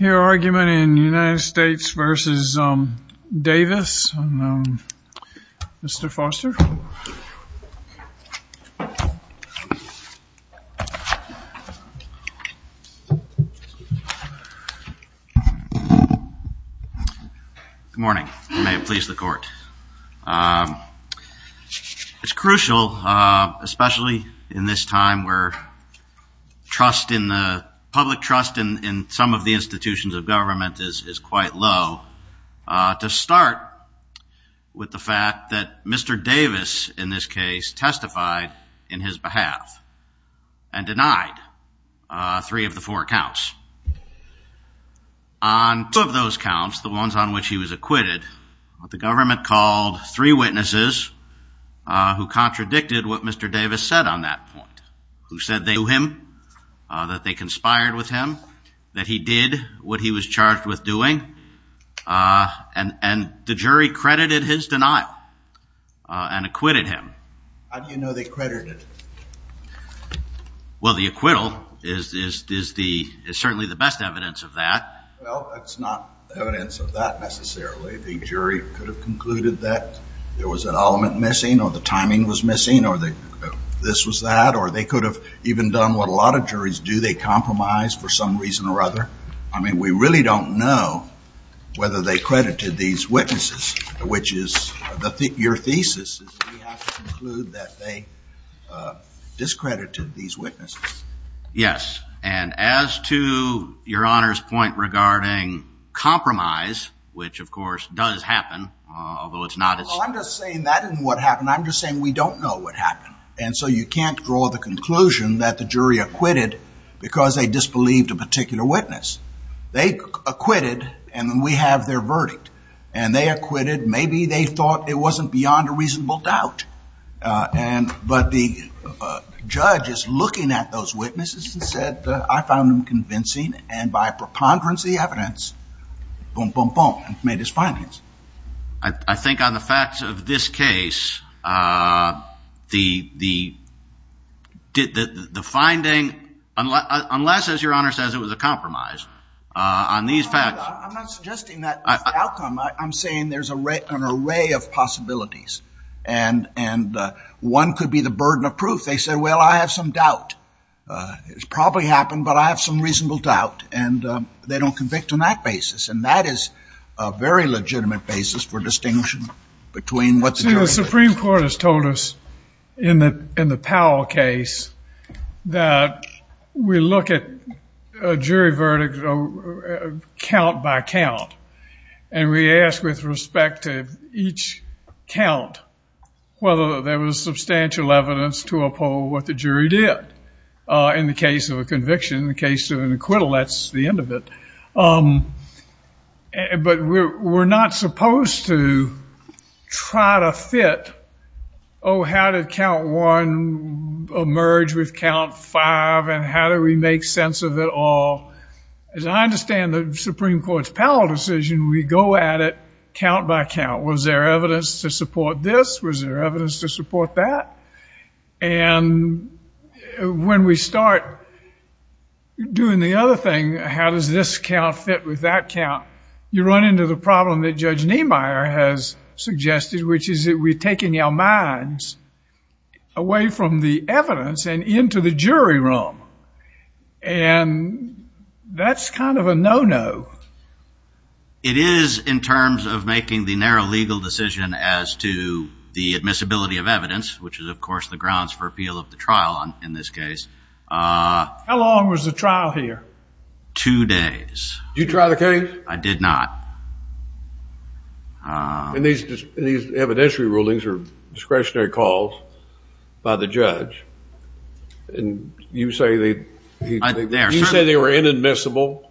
Your argument in the United States v. Davis, Mr. Foster. Good morning. May it please the court. It's crucial, especially in this time where public trust in some of the institutions of government is quite low, to start with the fact that Mr. Davis, in this case, testified in his behalf and denied three of the four counts. On two of those counts, the ones on which he was acquitted, the government called three witnesses who contradicted what Mr. Davis said on that point, who said they knew him, that they conspired with him, that he did what he was charged with doing, and the jury credited his denial and acquitted him. How do you know they credited him? Well, the acquittal is certainly the best evidence of that. Well, that's not evidence of that, necessarily. The jury could have concluded that there was an element missing or the timing was missing or this was that, or they could have even done what a lot of juries do, they compromise for some reason or other. I mean, we really don't know whether they credited these witnesses, which is your thesis. We have to conclude that they discredited these witnesses. Yes, and as to Your Honor's point regarding compromise, which, of course, does happen, although it's not as... Well, I'm just saying that isn't what happened. I'm just saying we don't know what happened. And so you can't draw the conclusion that the jury acquitted because they disbelieved a particular witness. They acquitted, and then we have their verdict, and they acquitted. Maybe they thought it wasn't beyond a reasonable doubt, but the judge is looking at those witnesses and said, I found them convincing, and by preponderance of the evidence, boom, boom, boom, and made his findings. I think on the facts of this case, the finding, unless, as Your Honor says, it was a compromise, on these facts... I'm not suggesting that outcome. I'm saying there's an array of possibilities, and one could be the burden of proof. They said, well, I have some doubt. It probably happened, but I have some reasonable doubt, and they don't convict on that basis. And that is a very legitimate basis for distinction between what the jury... See, the Supreme Court has told us in the Powell case that we look at a jury verdict count by count, and we ask with respect to each count whether there was substantial evidence to uphold what the jury did. In the case of a conviction, in the case of an acquittal, that's the end of it. But we're not supposed to try to fit, oh, how did count one emerge with count five, and how do we make sense of it all? As I understand the Supreme Court's Powell decision, we go at it count by count. Was there evidence to support this? Was there evidence to support that? And when we start doing the other thing, how does this count fit with that count, you run into the problem that Judge Niemeyer has suggested, which is that we're taking our minds away from the evidence and into the jury room. And that's kind of a no-no. It is in terms of making the narrow legal decision as to the admissibility of evidence, which is, of course, the grounds for appeal of the trial in this case. How long was the trial here? Two days. Did you try the case? I did not. And these evidentiary rulings are discretionary calls by the judge, and you say they were inadmissible?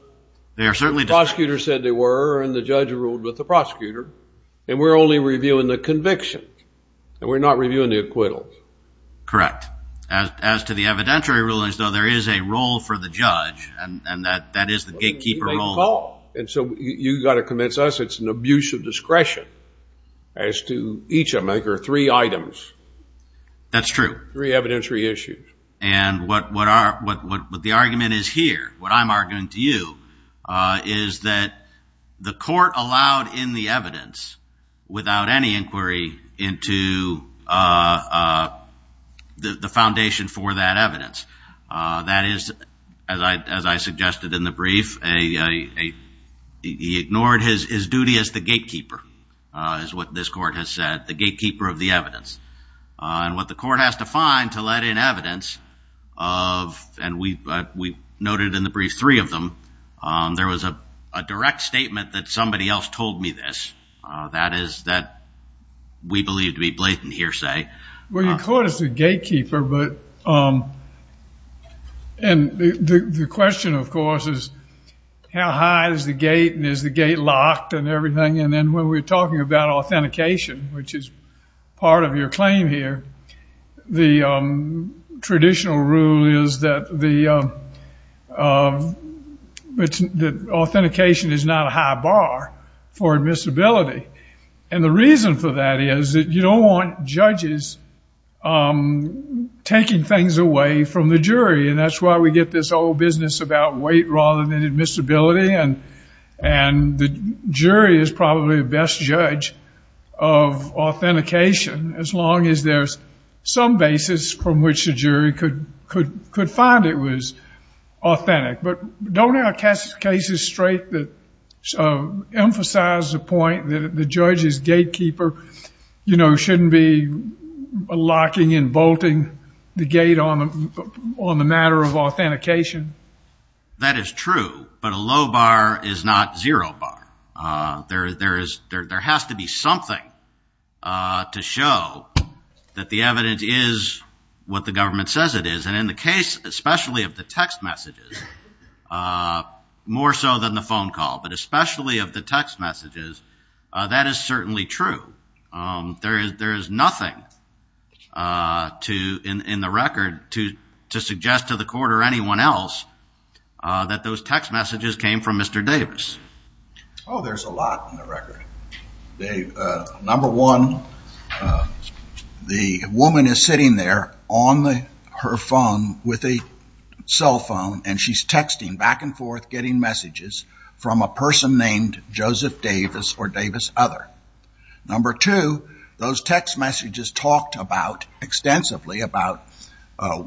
Prosecutors said they were, and the judge ruled with the prosecutor. And we're only reviewing the convictions, and we're not reviewing the acquittals. Correct. As to the evidentiary rulings, though, there is a role for the judge, and that is the gatekeeper role. And so you've got to convince us it's an abuse of discretion as to each of them. There are three items. That's true. Three evidentiary issues. And what the argument is here, what I'm arguing to you, is that the court allowed in the evidence without any inquiry into the foundation for that evidence. That is, as I suggested in the brief, he ignored his duty as the gatekeeper, is what this court has said, the gatekeeper of the evidence. And what the court has to find to let in evidence, and we noted in the brief three of them, there was a direct statement that somebody else told me this. That is that we believe to be blatant hearsay. Well, your court is the gatekeeper, and the question, of course, is how high is the gate, and is the gate locked and everything? And then when we're talking about authentication, which is part of your claim here, the traditional rule is that authentication is not a high bar for admissibility. And the reason for that is that you don't want judges taking things away from the jury, and that's why we get this old business about weight rather than admissibility, and the jury is probably the best judge of authentication, as long as there's some basis from which the jury could find it was authentic. But don't our cases straight emphasize the point that the judge's gatekeeper, you know, shouldn't be locking and bolting the gate on the matter of authentication? That is true, but a low bar is not zero bar. There has to be something to show that the evidence is what the government says it is, and in the case especially of the text messages, more so than the phone call, but especially of the text messages, that is certainly true. There is nothing in the record to suggest to the court or anyone else that those text messages came from Mr. Davis. Oh, there's a lot in the record. Number one, the woman is sitting there on her phone with a cell phone, and she's texting back and forth getting messages from a person named Joseph Davis or Davis Other. Number two, those text messages talked extensively about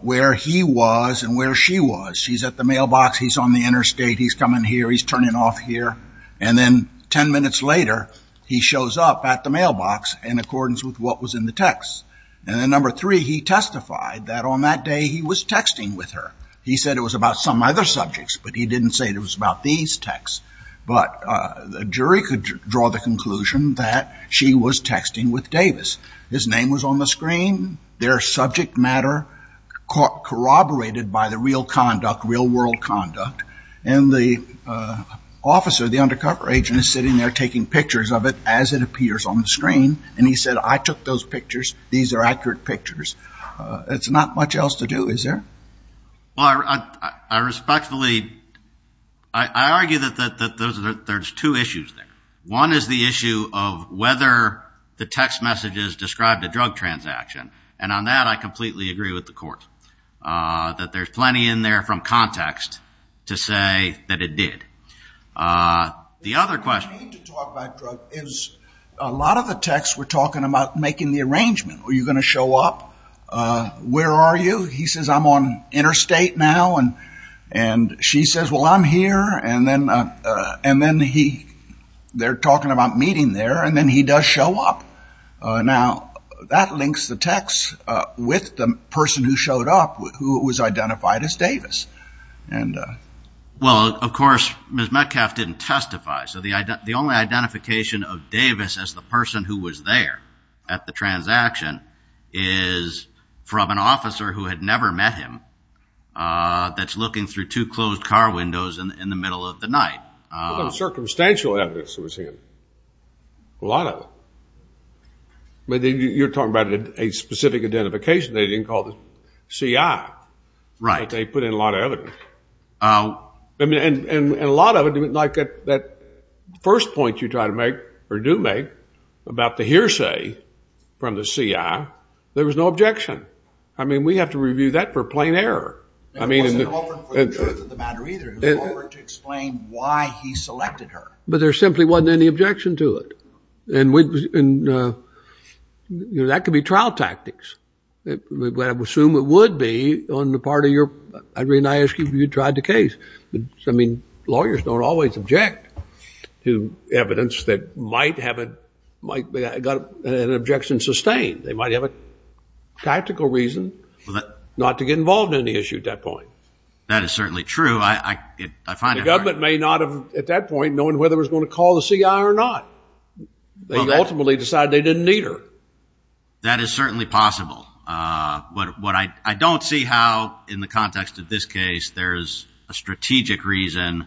where he was and where she was. She's at the mailbox. He's on the interstate. He's coming here. He's turning off here. And then ten minutes later, he shows up at the mailbox in accordance with what was in the text. And then number three, he testified that on that day he was texting with her. He said it was about some other subjects, but he didn't say it was about these texts. But the jury could draw the conclusion that she was texting with Davis. His name was on the screen. Their subject matter corroborated by the real conduct, real-world conduct. And the officer, the undercover agent, is sitting there taking pictures of it as it appears on the screen, and he said, I took those pictures. These are accurate pictures. It's not much else to do, is there? Well, I respectfully argue that there's two issues there. One is the issue of whether the text messages described a drug transaction, and on that I completely agree with the court, that there's plenty in there from context to say that it did. The other question is a lot of the texts were talking about making the arrangement. Are you going to show up? Where are you? He says, I'm on interstate now. And she says, well, I'm here. And then they're talking about meeting there, and then he does show up. Now, that links the text with the person who showed up who was identified as Davis. Well, of course, Ms. Metcalfe didn't testify, so the only identification of Davis as the person who was there at the transaction is from an officer who had never met him that's looking through two closed car windows in the middle of the night. What about circumstantial evidence that was him? A lot of them. You're talking about a specific identification they didn't call the CI. Right. But they put in a lot of evidence. And a lot of it, like that first point you do make about the hearsay from the CI, there was no objection. I mean, we have to review that for plain error. It wasn't open for the truth of the matter either. It was open to explain why he selected her. But there simply wasn't any objection to it. And that could be trial tactics. I assume it would be on the part of your – I mean, I ask you if you tried the case. I mean, lawyers don't always object to evidence that might have an objection sustained. They might have a tactical reason not to get involved in the issue at that point. That is certainly true. The government may not have, at that point, known whether it was going to call the CI or not. They ultimately decided they didn't need her. That is certainly possible. But I don't see how, in the context of this case, there is a strategic reason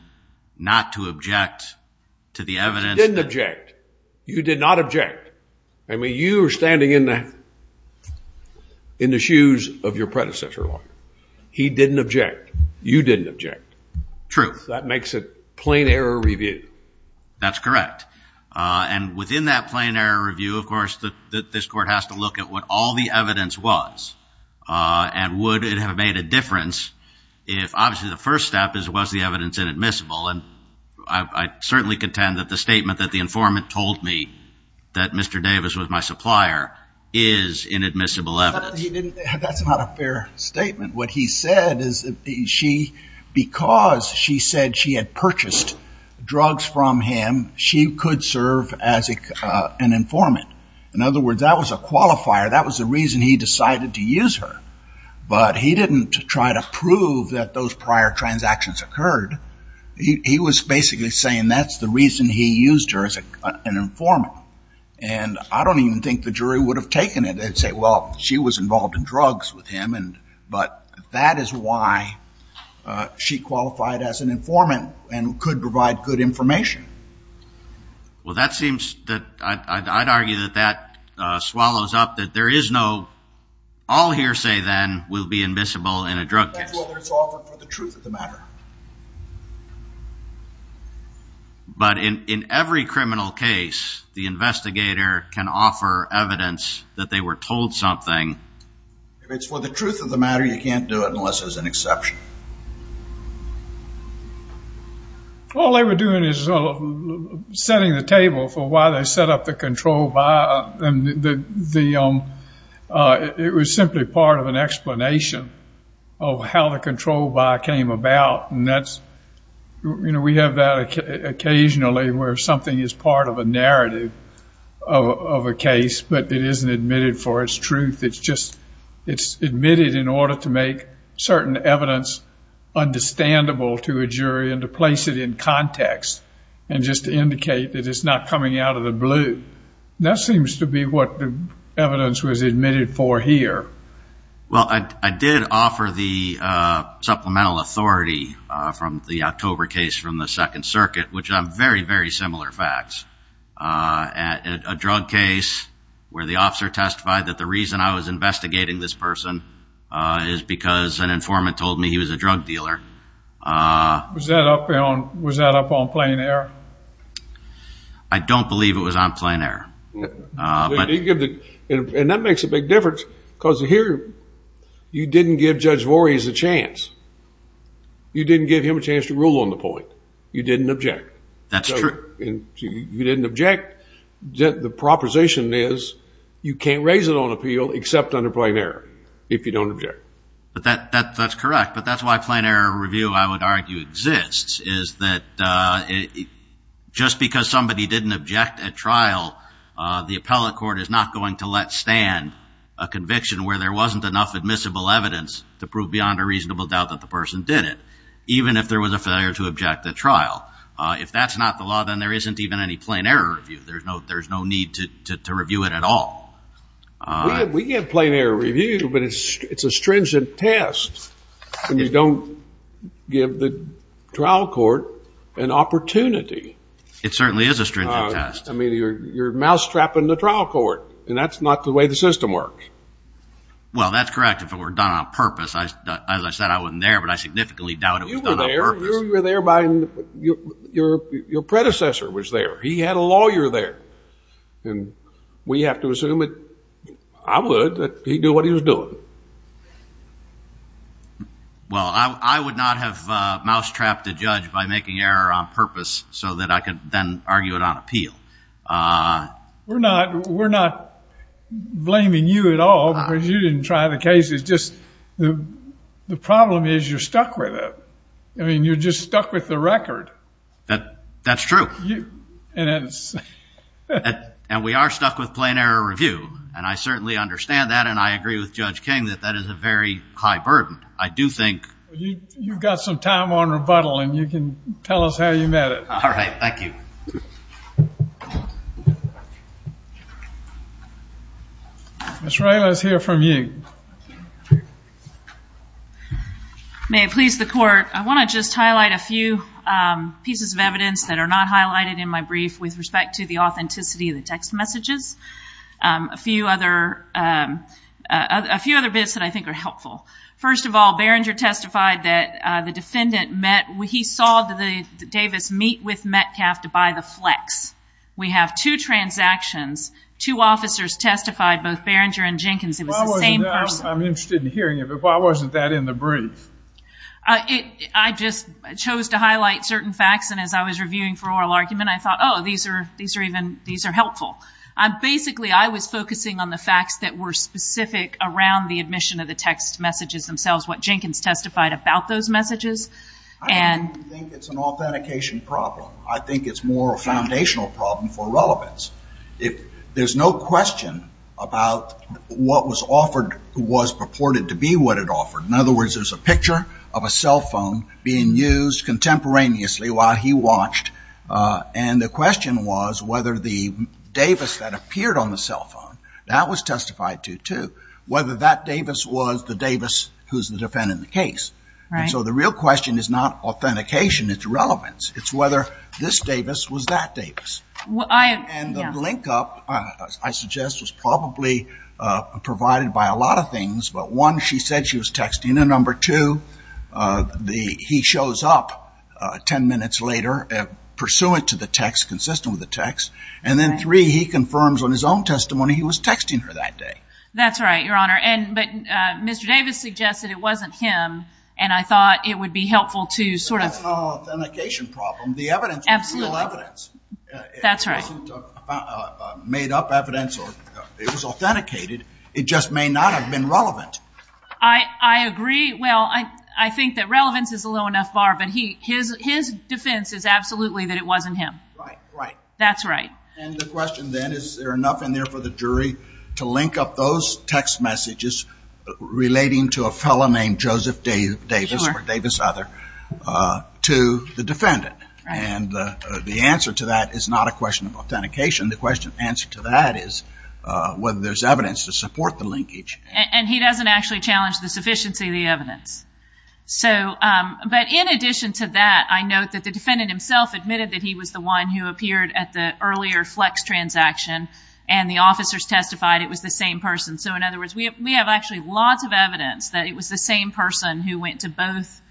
not to object to the evidence. You didn't object. You did not object. I mean, you were standing in the shoes of your predecessor lawyer. He didn't object. You didn't object. True. That makes it plain error review. That's correct. And within that plain error review, of course, this court has to look at what all the evidence was and would it have made a difference if, obviously, the first step was the evidence inadmissible. And I certainly contend that the statement that the informant told me that Mr. Davis was my supplier is inadmissible evidence. That's not a fair statement. What he said is that because she said she had purchased drugs from him, she could serve as an informant. In other words, that was a qualifier. That was the reason he decided to use her. But he didn't try to prove that those prior transactions occurred. He was basically saying that's the reason he used her as an informant. And I don't even think the jury would have taken it. They'd say, well, she was involved in drugs with him. But that is why she qualified as an informant and could provide good information. Well, that seems that I'd argue that that swallows up that there is no all hearsay then will be admissible in a drug case. That's whether it's offered for the truth of the matter. But in every criminal case, the investigator can offer evidence that they were told something. If it's for the truth of the matter, you can't do it unless there's an exception. All they were doing is setting the table for why they set up the control by. It was simply part of an explanation of how the control by came about. And we have that occasionally where something is part of a narrative of a case, but it isn't admitted for its truth. It's just admitted in order to make certain evidence understandable to a jury and to place it in context and just to indicate that it's not coming out of the blue. And that seems to be what the evidence was admitted for here. Well, I did offer the supplemental authority from the October case from the Second Circuit, which are very, very similar facts. A drug case where the officer testified that the reason I was investigating this person is because an informant told me he was a drug dealer. Was that up on plain air? I don't believe it was on plain air. And that makes a big difference because here you didn't give Judge Voorhees a chance. You didn't give him a chance to rule on the point. You didn't object. That's true. You didn't object. The proposition is you can't raise it on appeal except under plain air if you don't object. But that's correct. But that's why plain air review, I would argue, exists, is that just because somebody didn't object at trial, the appellate court is not going to let stand a conviction where there wasn't enough admissible evidence to prove beyond a reasonable doubt that the person did it, even if there was a failure to object at trial. If that's not the law, then there isn't even any plain air review. There's no need to review it at all. We get plain air review, but it's a stringent test when you don't give the trial court an opportunity. It certainly is a stringent test. I mean, you're mousetrapping the trial court, and that's not the way the system works. Well, that's correct if it were done on purpose. As I said, I wasn't there, but I significantly doubt it was done on purpose. You were there. Your predecessor was there. He had a lawyer there. And we have to assume that I would, that he'd do what he was doing. Well, I would not have mousetrapped a judge by making error on purpose so that I could then argue it on appeal. We're not blaming you at all because you didn't try the case. It's just the problem is you're stuck with it. I mean, you're just stuck with the record. That's true. And we are stuck with plain air review, and I certainly understand that, and I agree with Judge King that that is a very high burden. I do think... You've got some time on rebuttal, and you can tell us how you met it. All right. Thank you. Ms. Ray, let's hear from you. May it please the Court, I want to just highlight a few pieces of evidence that are not highlighted in my brief with respect to the authenticity of the text messages. A few other bits that I think are helpful. First of all, Berringer testified that the defendant met, he saw Davis meet with Metcalf to buy the Flex. We have two transactions. Two officers testified, both Berringer and Jenkins. It was the same person. I'm interested in hearing it, but why wasn't that in the brief? I just chose to highlight certain facts, and as I was reviewing for oral argument, I thought, oh, these are helpful. Basically, I was focusing on the facts that were specific around the admission of the text messages themselves, what Jenkins testified about those messages. I don't think it's an authentication problem. I think it's more a foundational problem for relevance. There's no question about what was offered was purported to be what it offered. In other words, there's a picture of a cell phone being used contemporaneously while he watched, and the question was whether the Davis that appeared on the cell phone, that was testified to, too, whether that Davis was the Davis who's the defendant in the case. So the real question is not authentication, it's relevance. It's whether this Davis was that Davis. And the linkup, I suggest, was probably provided by a lot of things, but one, she said she was texting, and number two, he shows up ten minutes later, pursuant to the text, consistent with the text, and then three, he confirms on his own testimony he was texting her that day. That's right, Your Honor. But Mr. Davis suggested it wasn't him, and I thought it would be helpful to sort of ---- That's not an authentication problem. The evidence was real evidence. That's right. It wasn't made-up evidence. It was authenticated. It just may not have been relevant. I agree. Well, I think that relevance is a low enough bar, but his defense is absolutely that it wasn't him. Right, right. That's right. And the question then, is there enough in there for the jury to link up those text messages relating to a fellow named Joseph Davis or Davis other to the defendant? And the answer to that is not a question of authentication. The answer to that is whether there's evidence to support the linkage. And he doesn't actually challenge the sufficiency of the evidence. But in addition to that, I note that the defendant himself admitted that he was the one who appeared at the earlier flex transaction, and the officers testified it was the same person. So, in other words, we have actually lots of evidence that it was the same person who went to both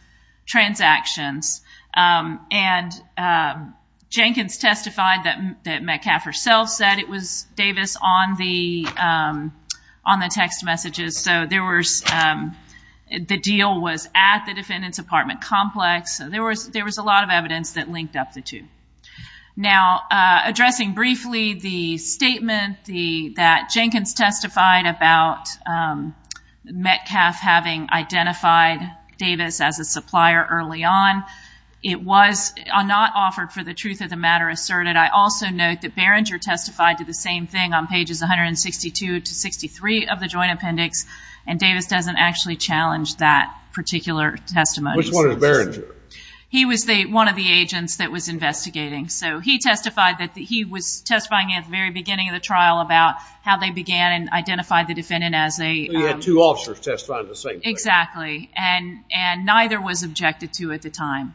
transactions, and Jenkins testified that Metcalf herself said it was Davis on the text messages. So the deal was at the defendant's apartment complex. There was a lot of evidence that linked up the two. Now, addressing briefly the statement that Jenkins testified about Metcalf having identified Davis as a supplier early on, it was not offered for the truth of the matter asserted. I also note that Barringer testified to the same thing on pages 162 to 63 of the joint appendix, and Davis doesn't actually challenge that particular testimony. Which one is Barringer? He was one of the agents that was investigating. So he testified that he was testifying at the very beginning of the trial about how they began and identified the defendant as a... So you had two officers testifying to the same thing. Exactly, and neither was objected to at the time.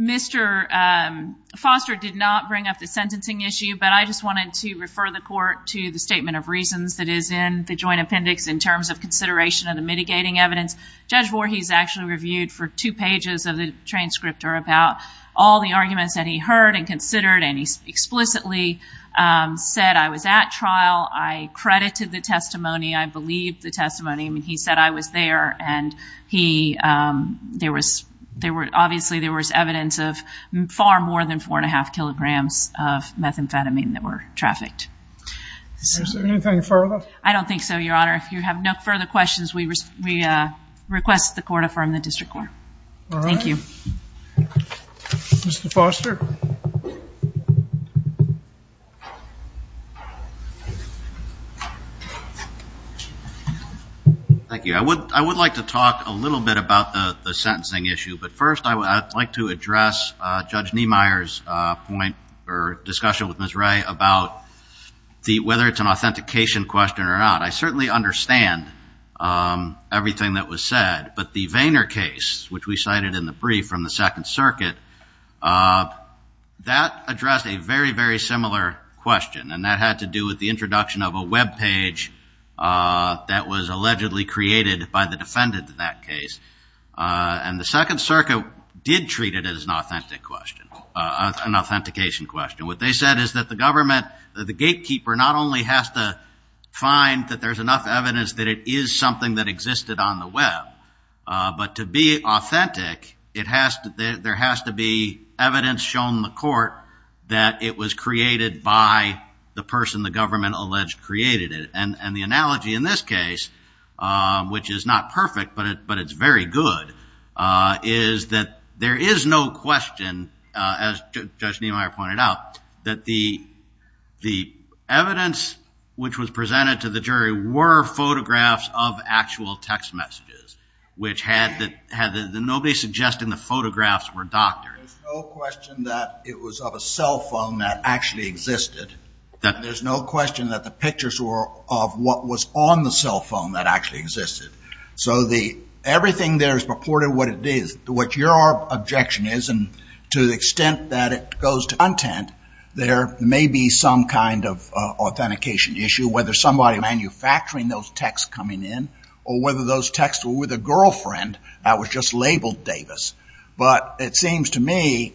Mr. Foster did not bring up the sentencing issue, but I just wanted to refer the court to the statement of reasons that is in the joint appendix in terms of consideration of the mitigating evidence. Judge Voorhees actually reviewed for two pages of the transcriptor about all the arguments that he heard and considered, and he explicitly said, I was at trial, I credited the testimony, I believed the testimony, he said I was there, and obviously there was evidence of far more than four and a half kilograms of methamphetamine that were trafficked. Is there anything further? I don't think so, Your Honor. If you have no further questions, we request the court affirm the district court. All right. Thank you. Mr. Foster. Thank you. I would like to talk a little bit about the sentencing issue, but first I would like to address Judge Niemeyer's point or discussion with Ms. Ray about whether it's an authentication question or not. I certainly understand everything that was said, but the Vayner case, which we cited in the brief from the Second Circuit, that addressed a very, very similar question, and that had to do with the introduction of a web page that was allegedly created by the defendant in that case. And the Second Circuit did treat it as an authentication question. What they said is that the government, the gatekeeper, not only has to find that there's enough evidence that it is something that existed on the web, but to be authentic, there has to be evidence shown in the court that it was created by the person the government alleged created it. And the analogy in this case, which is not perfect, but it's very good, is that there is no question, as Judge Niemeyer pointed out, that the evidence which was presented to the jury were photographs of actual text messages, which had nobody suggesting the photographs were doctored. There's no question that it was of a cell phone that actually existed. There's no question that the pictures were of what was on the cell phone that actually existed. So everything there is purported what it is. To what your objection is, and to the extent that it goes to content, there may be some kind of authentication issue, whether somebody manufacturing those texts coming in, or whether those texts were with a girlfriend that was just labeled Davis. But it seems to me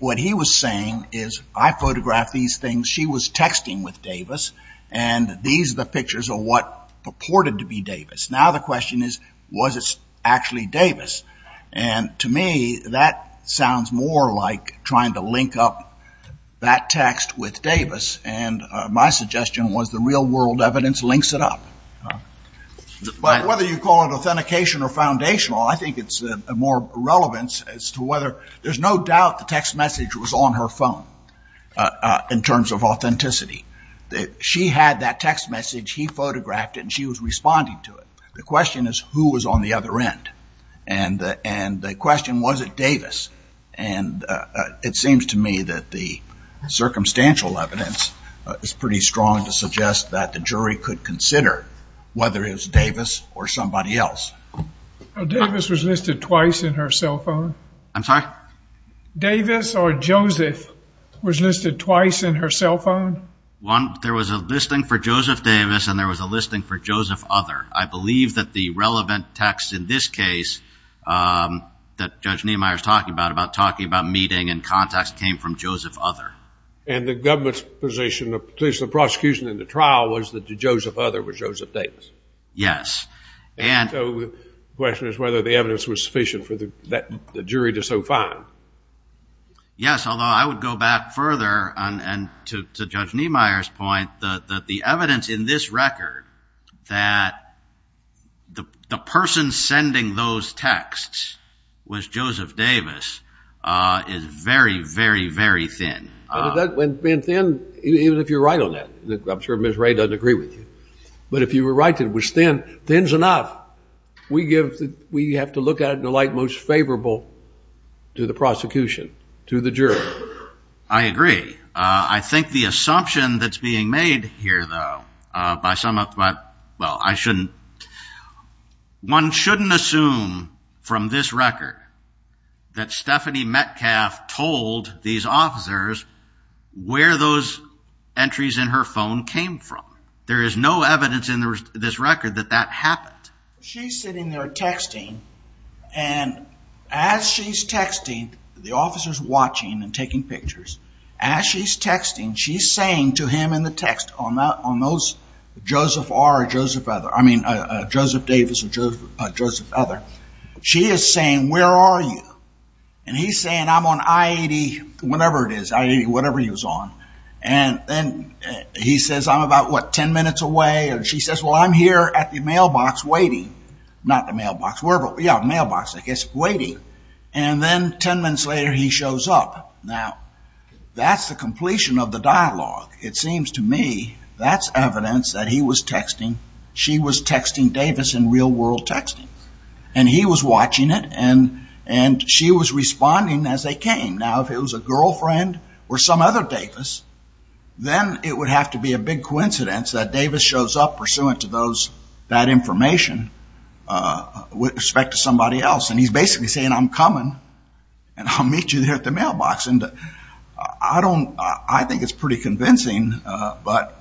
what he was saying is, I photographed these things, she was texting with Davis, and these are the pictures of what purported to be Davis. Now the question is, was it actually Davis? And to me, that sounds more like trying to link up that text with Davis, and my suggestion was the real-world evidence links it up. But whether you call it authentication or foundational, I think it's more relevant as to whether there's no doubt the text message was on her phone, in terms of authenticity. She had that text message, he photographed it, and she was responding to it. The question is, who was on the other end? And the question, was it Davis? And it seems to me that the circumstantial evidence is pretty strong to suggest that the jury could consider whether it was Davis or somebody else. Davis was listed twice in her cell phone. I'm sorry? Davis or Joseph was listed twice in her cell phone? There was a listing for Joseph Davis and there was a listing for Joseph Other. I believe that the relevant text in this case that Judge Niemeyer is talking about, about talking about meeting and contacts, came from Joseph Other. And the government's position, at least the prosecution in the trial, was that the Joseph Other was Joseph Davis? Yes. And so the question is whether the evidence was sufficient for the jury to so find. Yes, although I would go back further, and to Judge Niemeyer's point, that the evidence in this record that the person sending those texts was Joseph Davis, is very, very, very thin. And thin, even if you're right on that. I'm sure Ms. Ray doesn't agree with you. But if you were right that it was thin, thin's enough. We have to look at it in the light most favorable to the prosecution, to the jury. I agree. I think the assumption that's being made here, though, by some of the, well, I shouldn't. One shouldn't assume from this record that Stephanie Metcalf told these officers where those entries in her phone came from. There is no evidence in this record that that happened. She's sitting there texting. And as she's texting, the officer's watching and taking pictures. As she's texting, she's saying to him in the text on those Joseph R or Joseph Other, I mean, Joseph Davis or Joseph Other, she is saying, where are you? And he's saying, I'm on I-80, whatever it is, I-80, whatever he was on. And then he says, I'm about, what, 10 minutes away? And she says, well, I'm here at the mailbox waiting. Not the mailbox, wherever, yeah, mailbox, I guess, waiting. And then 10 minutes later, he shows up. Now, that's the completion of the dialogue. It seems to me that's evidence that he was texting, she was texting Davis in real world texting. And he was watching it, and she was responding as they came. Now, if it was a girlfriend or some other Davis, then it would have to be a big coincidence that Davis shows up pursuant to those, that information with respect to somebody else. And he's basically saying, I'm coming, and I'll meet you there at the mailbox. And I don't, I think it's pretty convincing, but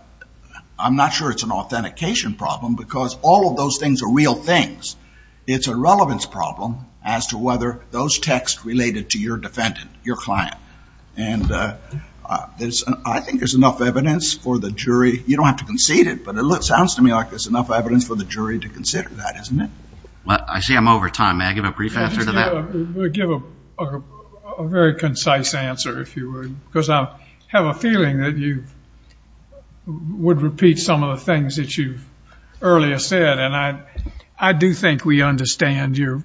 I'm not sure it's an authentication problem because all of those things are real things. It's a relevance problem as to whether those texts related to your defendant, your client. And I think there's enough evidence for the jury, you don't have to concede it, but it sounds to me like there's enough evidence for the jury to consider that, isn't it? Well, I see I'm over time. May I give a brief answer to that? Give a very concise answer, if you would, because I have a feeling that you would repeat some of the things that you've earlier said. And I do think we understand your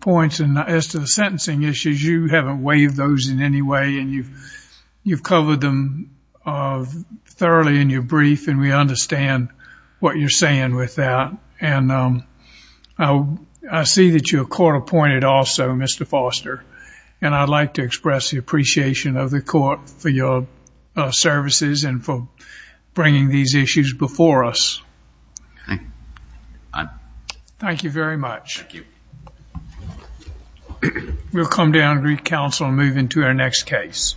points. And as to the sentencing issues, you haven't waived those in any way, and you've covered them thoroughly in your brief, and we understand what you're saying with that. And I see that you're court-appointed also, Mr. Foster, and I'd like to express the appreciation of the court for your services and for bringing these issues before us. Thank you very much. We'll come down to the council and move into our next case.